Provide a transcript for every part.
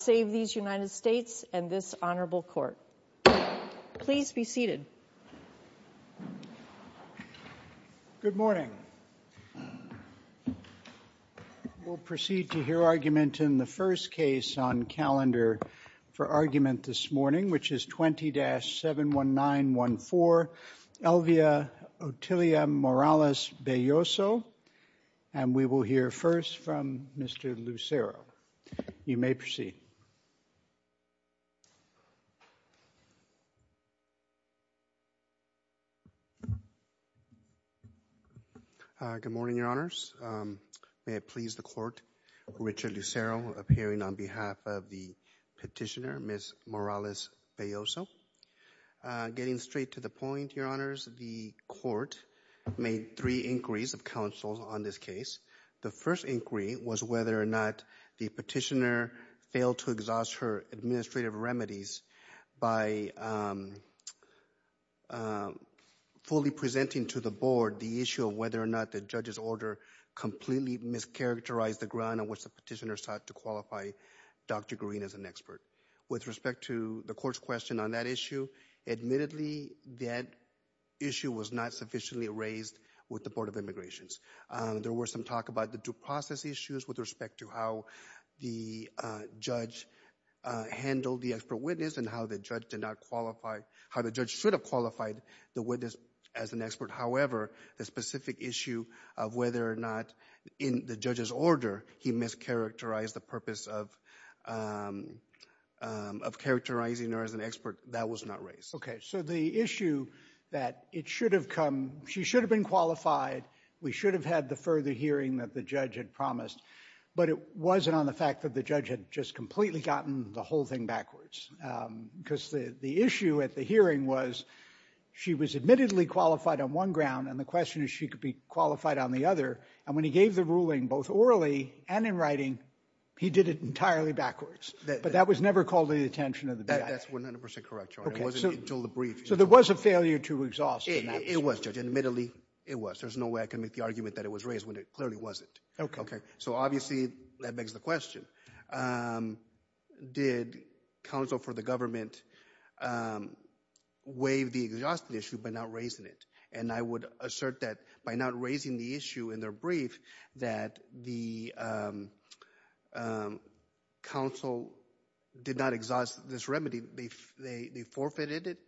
Save these United States and this Honorable Court. Please be seated. Good morning. We'll proceed to hear argument in the first case on calendar for argument this morning which is 20-71914 Elvia Otilia Morales Belloso and we will hear first from Mr. Lucero. You may proceed. Good morning, Your Honors. May it please the Court, Richard Lucero appearing on behalf of the petitioner, Ms. Morales Belloso. Getting straight to the point, Your Honors, the Court made three inquiries of counsel on this case. The first inquiry was whether or not the petitioner failed to exhaust her administrative remedies by fully presenting to the Board the issue of whether or not the judge's order completely mischaracterized the ground on which the petitioner sought to qualify Dr. Green as an expert. With respect to the Court's question on that issue, admittedly that issue was not sufficiently raised with the Board of Immigrations. There was some talk about the due process issues with respect to how the judge handled the expert witness and how the judge did not qualify, how the judge should have qualified the witness as an expert. However, the specific issue of whether or not in the judge's order he mischaracterized the purpose of characterizing her as an expert, that was not raised. Okay, so the issue that it should have come, she should have been qualified, we should have had the further hearing that the judge had promised, but it wasn't on the fact that the judge had just completely gotten the whole thing backwards, because the issue at the hearing was she was admittedly qualified on one ground, and the question is she could be qualified on the other, and when he gave the ruling both orally and in writing, he did it entirely backwards, but that was never called to the attention of the BIA. That's 100% correct, Your Honor. It wasn't until the brief. So there was a failure to exhaust in the brief. It was, Judge, admittedly it was. There's no way I can make the argument that it was raised when it clearly wasn't. Okay. Okay, so obviously that begs the question, did counsel for the government waive the exhaust issue by not raising it, and I would assert that by not raising the issue in their brief that the counsel did not exhaust this remedy. They forfeited it,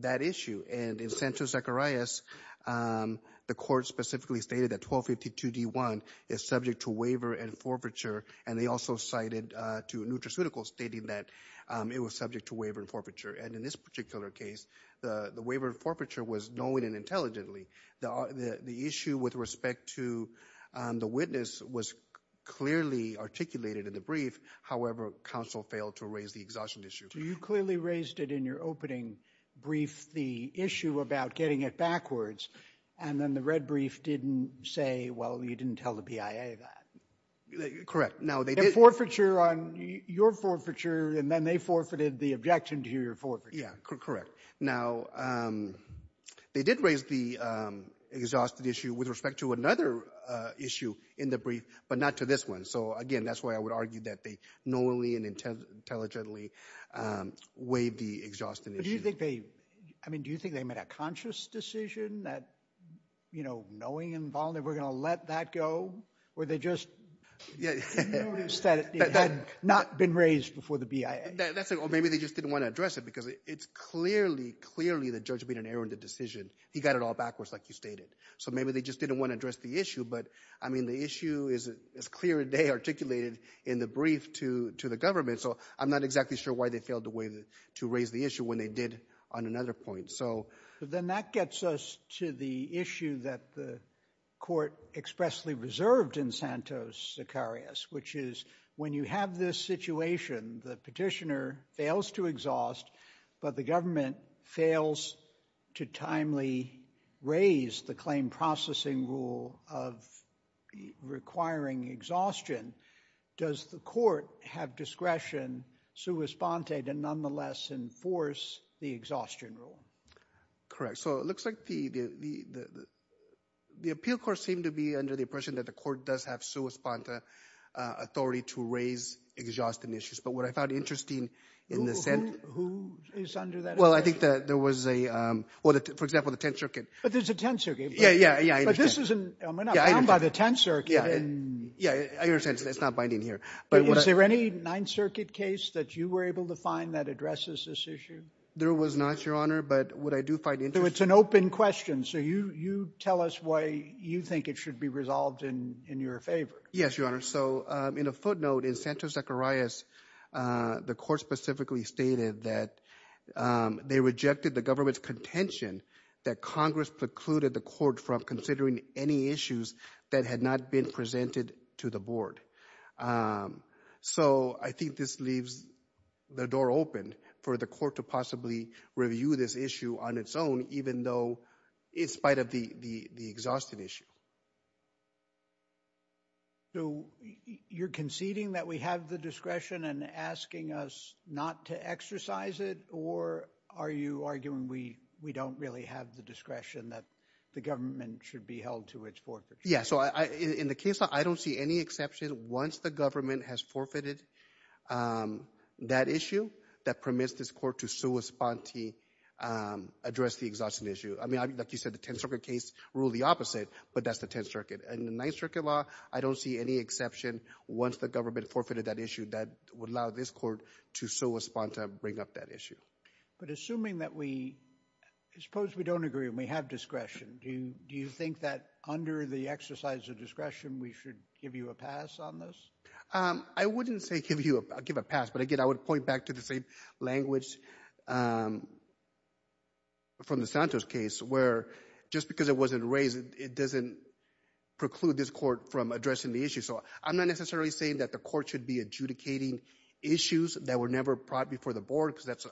that issue, and in Santos Zacharias, the court specifically stated that 1252 D1 is subject to waiver and forfeiture, and they also cited to NutraCeutical stating that it was subject to waiver and forfeiture, and in this particular case, the waiver and forfeiture was knowing and intelligently. The issue with respect to the witness was clearly articulated in the brief. However, counsel failed to raise the exhaustion issue. You clearly raised it in your opening brief, the issue about getting it backwards, and then the red brief didn't say, well, you didn't tell the BIA that. Correct. Now, they did forfeiture on your forfeiture, and then they forfeited the objection to your forfeiture. Yeah, correct. Now, they did raise the exhausted issue with respect to another issue in the brief, but not to this one, so again, that's why I would argue that they knowingly and intelligently waived the exhaustion issue. Do you think they made a conscious decision that, you know, knowing and voluntarily going to let that go, or they just noticed that it had not been raised before the BIA? Maybe they just didn't want to address it because it's clearly, clearly the judge made an error in the decision. He got it all backwards like you stated, so maybe they just didn't want to address the issue, but I mean, the issue is as clear as they articulated in the brief to the government, so I'm not exactly sure why they failed to raise the issue when they did on another point. Then that gets us to the issue that the court expressly reserved in Santos-Zacarias, which is when you have this situation, the petitioner fails to exhaust, but the government fails to timely raise the claim processing rule of requiring exhaustion. Does the court have discretion, sui sponte, to nonetheless enforce the exhaustion rule? Correct, so it looks like the appeal court seemed to be under the impression that the court does have sui sponte authority to raise exhaustion issues, but what I found interesting in the sense... Who is under that? Well, I think that there was a, well, for example, the Tenth Circuit. But there's a Tenth Circuit. Yeah, yeah, yeah. But this isn't, I mean, I'm not bound by the Tenth Circuit. Yeah, yeah, I understand, it's not binding here. But is there any Ninth Circuit case that you were able to find that addresses this issue? There was not, Your Honor, but what I do find interesting... So it's an open question. So you tell us why you think it should be resolved in your favor. Yes, Your Honor. So in a footnote, in Santos-Zacarias, the court specifically stated that they rejected the government's contention that Congress precluded the court from considering any issues that had not been presented to the court. So I think this leaves the door open for the court to possibly review this issue on its own, even though, in spite of the exhaustive issue. So you're conceding that we have the discretion and asking us not to exercise it, or are you arguing we don't really have the discretion that the government should be held to its fortitude? Yeah, so in the case, I don't see any exception, once the government has forfeited that issue, that permits this court to sua sponte, address the exhaustive issue. I mean, like you said, the Tenth Circuit case ruled the opposite, but that's the Tenth Circuit. In the Ninth Circuit law, I don't see any exception, once the government forfeited that issue, that would allow this court to sua sponte, bring up that issue. But assuming that we, suppose we don't agree and we have discretion, do you think that under the exercise of discretion, we should give you a pass on this? I wouldn't say give a pass, but again, I would point back to the same language from the Santos case, where just because it wasn't raised, it doesn't preclude this court from addressing the issue. So I'm not necessarily saying that the court should be adjudicating issues that were never brought before the board, because that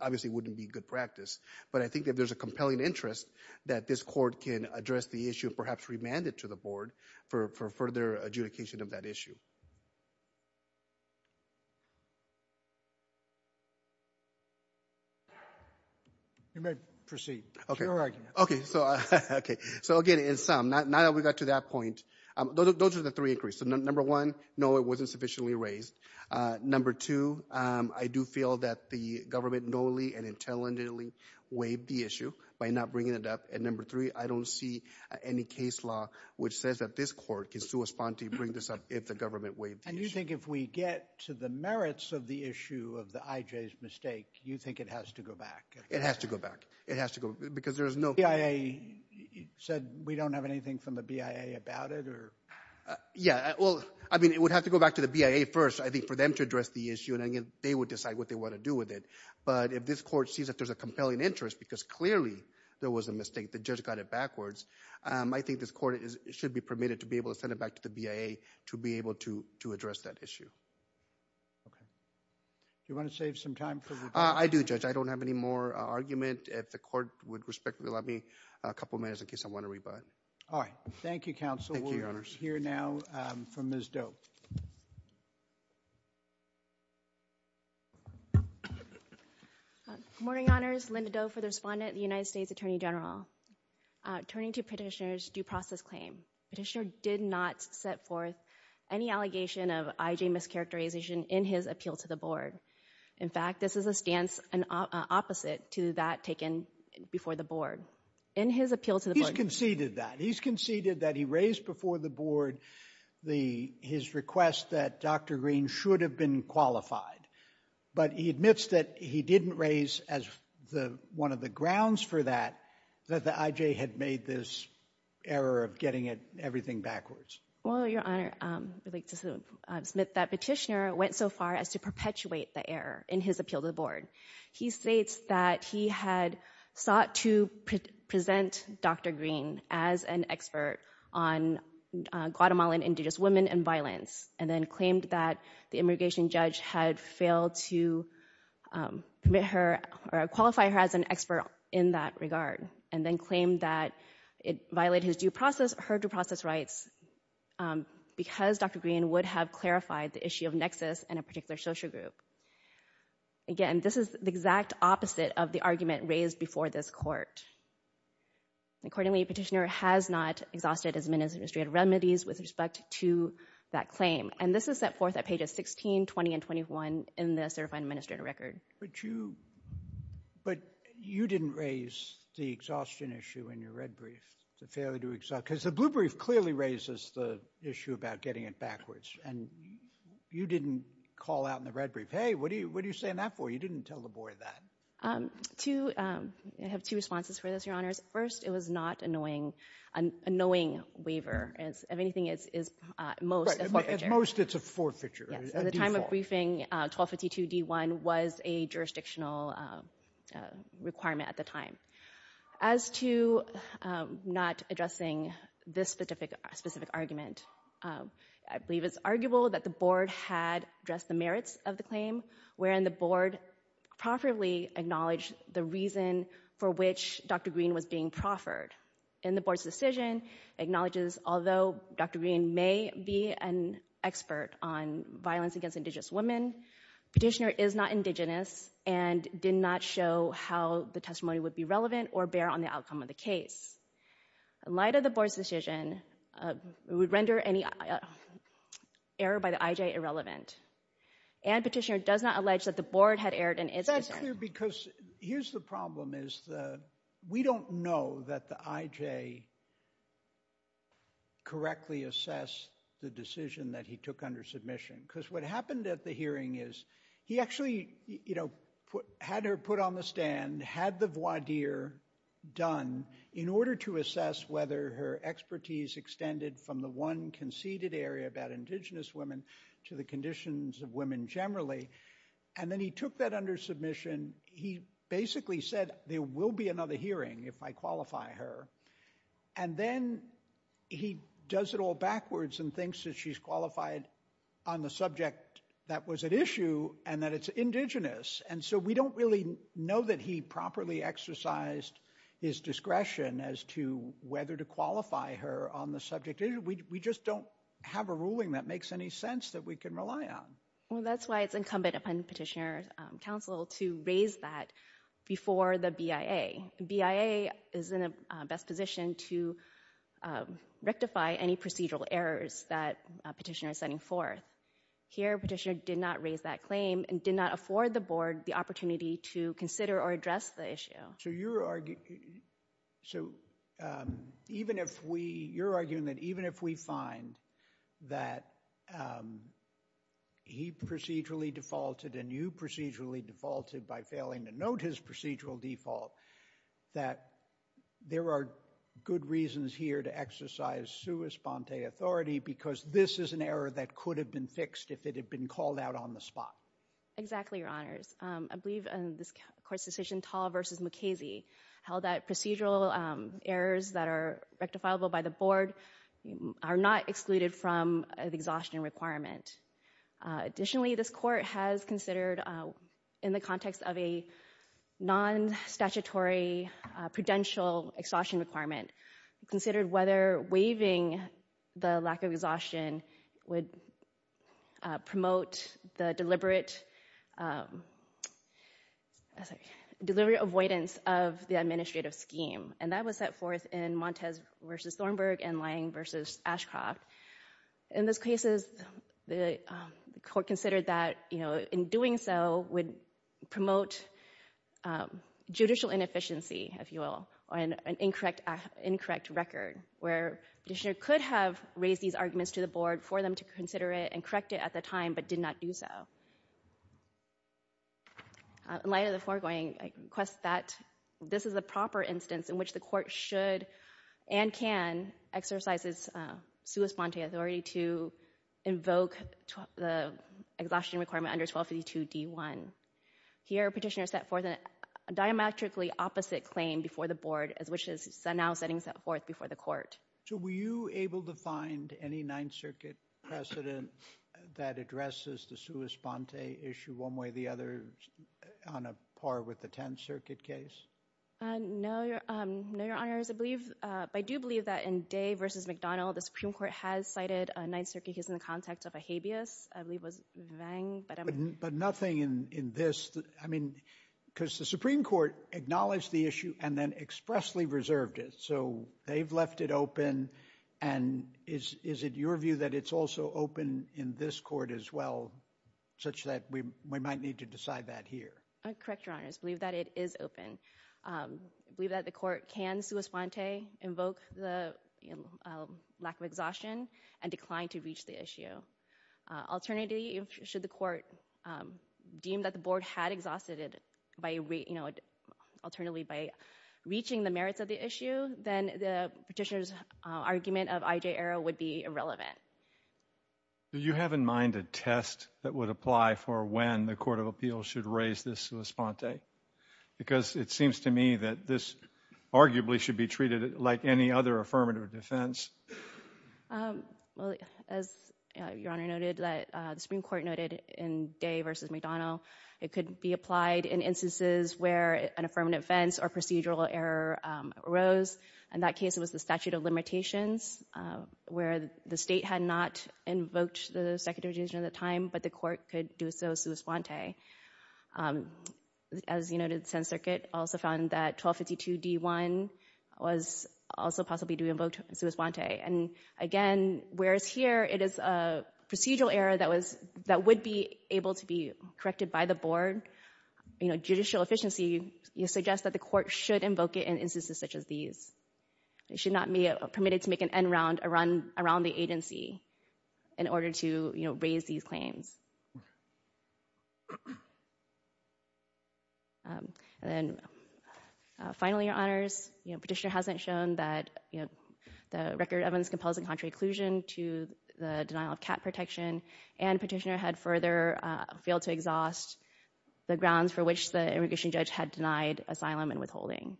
obviously wouldn't be good practice. But I think that there's a compelling interest that this court can address the issue, perhaps remand it to the board for further adjudication of that issue. You may proceed. Okay. Okay, so again, in sum, now that we got to that point, those are the three inquiries. So number one, no, it wasn't sufficiently raised. Number two, I do feel that the government knowingly and intelligently waived the issue by not bringing it up. And number three, I don't see any case law which says that this court can sua sponte, bring this up if the government waived the issue. And you think if we get to the merits of the issue of the IJ's mistake, you think it has to go back? It has to go back. It has to go, because there is no... The BIA said we don't have anything from the BIA about it or... Yeah, well, I mean, it would have to go back to the BIA first, I think, for them to address the issue, and then they would decide what they want to do with it. But if this court sees that there's a compelling interest, because clearly there was a mistake, the judge got it backwards, I think this court should be permitted to be able to send it back to the BIA to be able to address that issue. Okay. Do you want to save some time for... I do, Judge. I don't have any more argument. If the court would respectfully allow me a couple of minutes in case I want to go. Morning, Honors. Linda Doe for the respondent, the United States Attorney General. Turning to Petitioner's due process claim, Petitioner did not set forth any allegation of IJ mischaracterization in his appeal to the board. In fact, this is a stance opposite to that taken before the board. In his appeal to the board... He's conceded that. He's conceded that he raised before the board his request that Dr. Green should have been qualified. But he admits that he didn't raise as one of the grounds for that, that the IJ had made this error of getting everything backwards. Well, Your Honor, I would like to submit that Petitioner went so far as to perpetuate the error in his appeal to the board. He states that he had sought to present Dr. Green as an expert on Guatemalan indigenous women and violence, and then claimed that the immigration judge had failed to permit her or qualify her as an expert in that regard, and then claimed that it violated his due process, her due process rights, because Dr. Green would have clarified the issue of nexus in a particular social group. Again, this is the exact opposite of the argument raised before this court. Accordingly, Petitioner has not exhausted his administrative remedies with respect to that claim, and this is set forth at pages 16, 20, and 21 in the certified administrative record. But you didn't raise the exhaustion issue in your red brief, the failure to exhaust, because the blue brief clearly raises the issue about getting it backwards, and you didn't call out in the red brief, hey, what are you saying that for? You didn't tell the board that. To have two responses for this, Your Honors. First, it was not a knowing, a knowing waiver. If anything, it's most a forfeiture. At most, it's a forfeiture. At the time of briefing, 1252d1 was a jurisdictional requirement at the time. As to not addressing this specific argument, I believe it's arguable that the board had addressed the merits of the claim, wherein the board properly acknowledged the reason for which Dr. Green was being proffered. And the board's decision acknowledges, although Dr. Green may be an expert on violence against Indigenous women, Petitioner is not Indigenous and did not show how the testimony would be relevant or bear on the outcome of the case. In light of the board's decision, it would render any error by the IJ irrelevant. And Petitioner does not allege that the board had erred in its concern. Is that clear? Because here's the problem, is that we don't know that the IJ correctly assessed the decision that he took under submission. Because what happened at the hearing is he actually, you know, had her put on the stand, had the voir dire done in order to assess whether her expertise extended from the one conceded area about Indigenous women to the conditions of women generally. And then he took that under submission. He basically said there will be another hearing if I qualify her. And then he does it all backwards and thinks that she's qualified on the subject that was at issue and that it's Indigenous. And so we don't really know that he properly exercised his discretion as to whether to qualify her on the subject. We just don't have a ruling that makes any sense that we can rely on. Well, that's why it's incumbent upon Petitioner's counsel to raise that before the BIA. BIA is in a best position to rectify any procedural errors that Petitioner is sending forth. Here, Petitioner did not raise that claim and did not afford the board the opportunity to consider or address the issue. So you're arguing, so even if we, you're arguing that even if we find that he procedurally defaulted and you procedurally defaulted by failing to note his procedural default that there are good reasons here to exercise sua sponte authority because this is an error that could have been fixed if it had been called out on the spot. Exactly, Your Honors. I believe in this court's decision, Tall v. Mukasey, held that procedural errors that are rectifiable by the board are not excluded from an exhaustion requirement. Additionally, this court has considered, in the context of a non-statutory prudential exhaustion requirement, considered whether waiving the lack of exhaustion would promote the deliberate avoidance of the administrative scheme. And that was set forth in Montes v. Thornburg and Lange v. Ashcroft. In those cases, the court considered that, you know, in doing so would promote judicial inefficiency, if you will, or an incorrect record where Petitioner could have raised these arguments to the board for them to consider it and correct it at the time but did not do so. In light of the foregoing, I request that this is a proper instance in which the court should and can exercise sua sponte authority to invoke the exhaustion requirement under 1252d1. Here, Petitioner set forth a diametrically opposite claim before the board, which is now setting forth before the court. So were you able to find any Ninth Circuit precedent that addresses the sua sponte issue one way or the other on a par with the Tenth Circuit case? No, Your Honors. I do believe that in Day v. McDonnell, the Supreme Court has cited a Ninth Circuit case in the context of a habeas. I believe it was Vang. But nothing in this? I mean, because the Supreme Court acknowledged the issue and then expressly reserved it. So they've left it open. And is it your view that it's also open in this court as well, such that we might need to decide that here? Correct, Your Honors. I believe that it is open. I believe that the court can sua sponte, invoke the lack of exhaustion, and decline to reach the issue. Alternatively, should the court deem that the board had exhausted it by, you know, alternatively by reaching the merits of the issue, then the Petitioner's argument of I.J. Arrow would be irrelevant. Do you have in mind a test that would apply for when the Court of Appeals should raise this sua sponte? Because it seems to me that this arguably should be treated like any affirmative defense. Well, as Your Honor noted, that the Supreme Court noted in Day v. McDonnell, it could be applied in instances where an affirmative defense or procedural error arose. In that case, it was the statute of limitations, where the state had not invoked the executive decision at the time, but the court could do so sua sponte. As you noted, the Seventh Circuit also found that 1252d1 was also possibly to be invoked sua sponte. And again, whereas here it is a procedural error that would be able to be corrected by the board, you know, judicial efficiency suggests that the court should invoke it in instances such as these. It should not be permitted to make an end round around the agency in order to, you know, raise these claims. And then, finally, Your Honors, you know, Petitioner hasn't shown that, you know, the record of this compels a contrary inclusion to the denial of cat protection, and Petitioner had further failed to exhaust the grounds for which the immigration judge had denied asylum and withholding.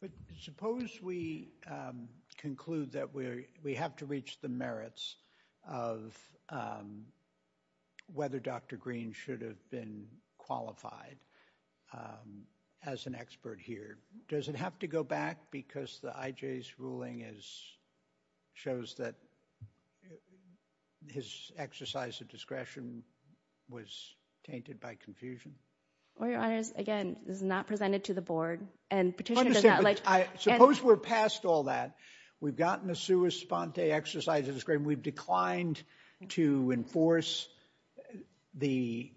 But suppose we conclude that we have to reach the merits of whether Dr. Green should have been qualified as an expert here. Does it have to go back because the IJ's ruling shows that his exercise of discretion was tainted by confusion? Well, Your Honors, again, this is not presented to the board, and Petitioner does not like— Suppose we're past all that. We've gotten a sua sponte exercise of discretion. We've declined to enforce the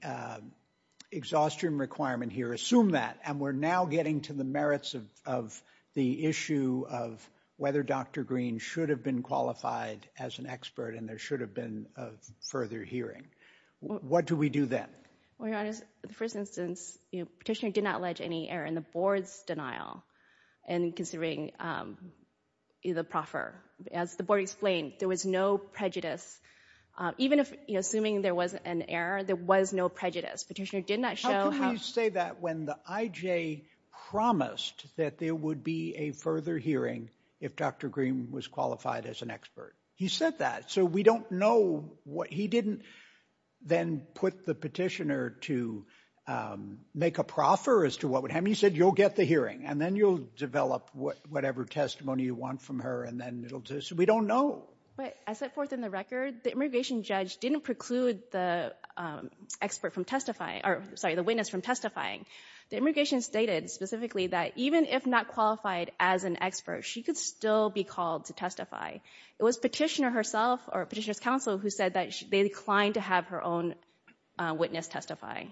exhaustion requirement here. Assume that, and we're now getting to the merits of the issue of whether Dr. Green should have been qualified as an expert, and there should have been further hearing. What do we do then? Well, Your Honors, the first instance, you know, Petitioner did not allege any error in the board's in considering the proffer. As the board explained, there was no prejudice. Even if, you know, assuming there was an error, there was no prejudice. Petitioner did not show— How could he say that when the IJ promised that there would be a further hearing if Dr. Green was qualified as an expert? He said that. So we don't know what— He didn't then put the Petitioner to make a proffer as to what would happen. He said, You'll get the hearing, and then you'll develop whatever testimony you want from her, and then it'll just— We don't know. But I set forth in the record, the immigration judge didn't preclude the expert from testifying— or, sorry, the witness from testifying. The immigration stated specifically that even if not qualified as an expert, she could still be called to testify. It was Petitioner herself or Petitioner's counsel who said that they declined to have her own witness testify. It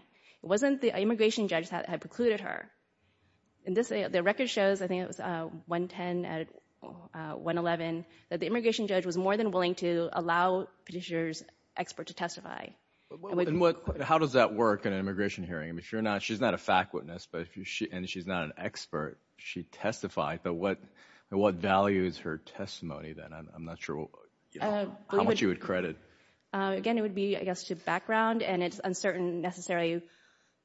wasn't the immigration judge that had precluded her. In this, the record shows— I think it was 110, 111— that the immigration judge was more than willing to allow Petitioner's expert to testify. How does that work in an immigration hearing? I mean, if you're not— She's not a fact witness, and she's not an expert. She testified, but what values her testimony then? I'm not sure how much you would credit. Again, it would be, I guess, to background, and it's uncertain necessarily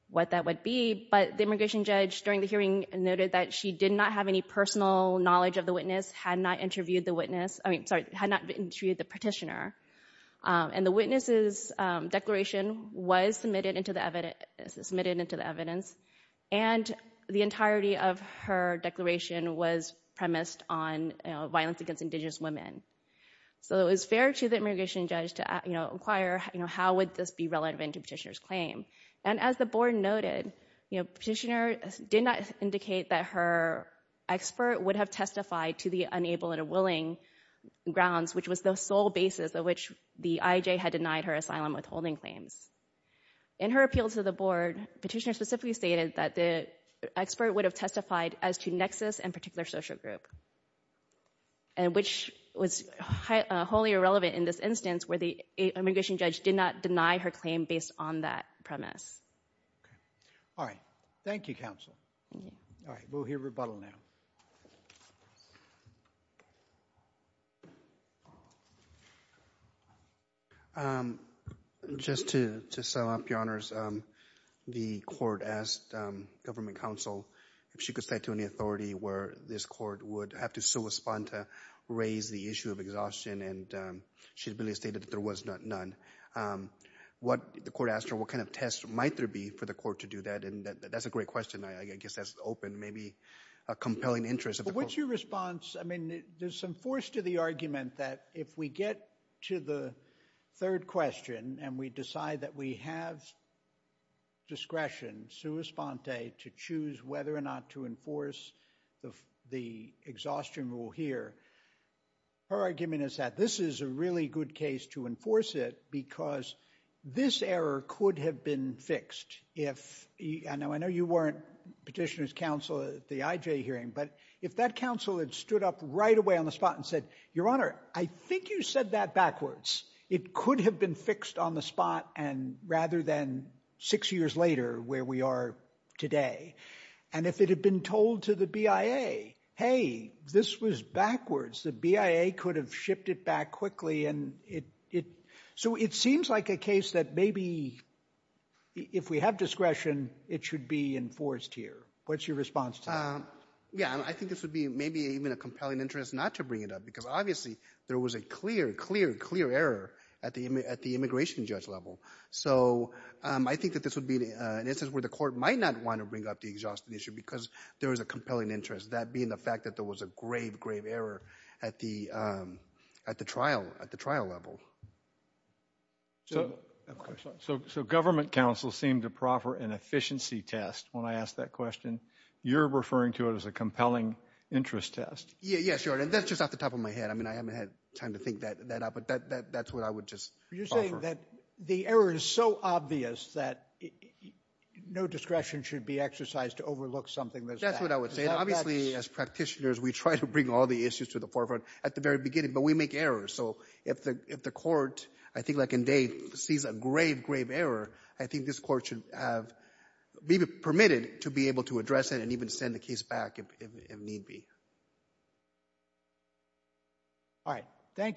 what that would be, but the immigration judge during the hearing noted that she did not have any personal knowledge of the witness, had not interviewed the witness— I mean, sorry, had not interviewed the Petitioner. And the witness's declaration was submitted into the evidence, and the entirety of her declaration was premised on violence against Indigenous women. So it was fair to the immigration judge to, you know, inquire, you know, how would this be relevant to Petitioner's claim? And as the board noted, you know, Petitioner did not indicate that her expert would have testified to the unable and unwilling grounds, which was the sole basis of which the IAJ had denied her asylum withholding claims. In her appeal to the board, Petitioner specifically stated that the expert would have testified as to nexus and particular social group, and which was wholly irrelevant in this instance where the immigration judge did not deny her claim based on that premise. Okay. All right. Thank you, counsel. All right. We'll hear rebuttal now. Just to sum up, Your Honors, the court asked government counsel if she could state to any court would have to sua sponta raise the issue of exhaustion, and she really stated that there was none. What the court asked her, what kind of test might there be for the court to do that? And that's a great question. I guess that's open, maybe a compelling interest. But what's your response? I mean, there's some force to the argument that if we get to the third question, and we decide that we have discretion, sua sponta, to choose whether or not to enforce the exhaustion rule here, her argument is that this is a really good case to enforce it, because this error could have been fixed. I know you weren't Petitioner's counsel at the IJ hearing, but if that counsel had stood up right away on the spot and said, Your Honor, I think you said that backwards, it could have been fixed on the spot and rather than six years later where we are today. And if it had been told to the BIA, hey, this was backwards, the BIA could have shipped it back quickly. So it seems like a case that maybe if we have discretion, it should be enforced here. What's your response to that? Yeah, I think this would be maybe even a compelling interest not to bring it up, because obviously there was a clear, clear, clear error at the immigration judge level. So I think that this would be an instance where the court might not want to bring up the exhaustion issue, because there is a compelling interest. That being the fact that there was a grave, grave error at the trial level. So government counsel seemed to proffer an efficiency test when I asked that question. You're referring to it as a compelling interest test. Yeah, sure. And that's just off the top of my head. I mean, I haven't had time to think that up, but that's what I would just offer. You're saying that the error is so obvious that no discretion should be exercised to overlook something that's bad. That's what I would say. And obviously as practitioners, we try to bring all the issues to the forefront at the very beginning, but we make errors. So if the court, I think like in Dave, sees a grave, grave error, I think this court should be permitted to be able to address it and even send the case back if need be. All right. Thank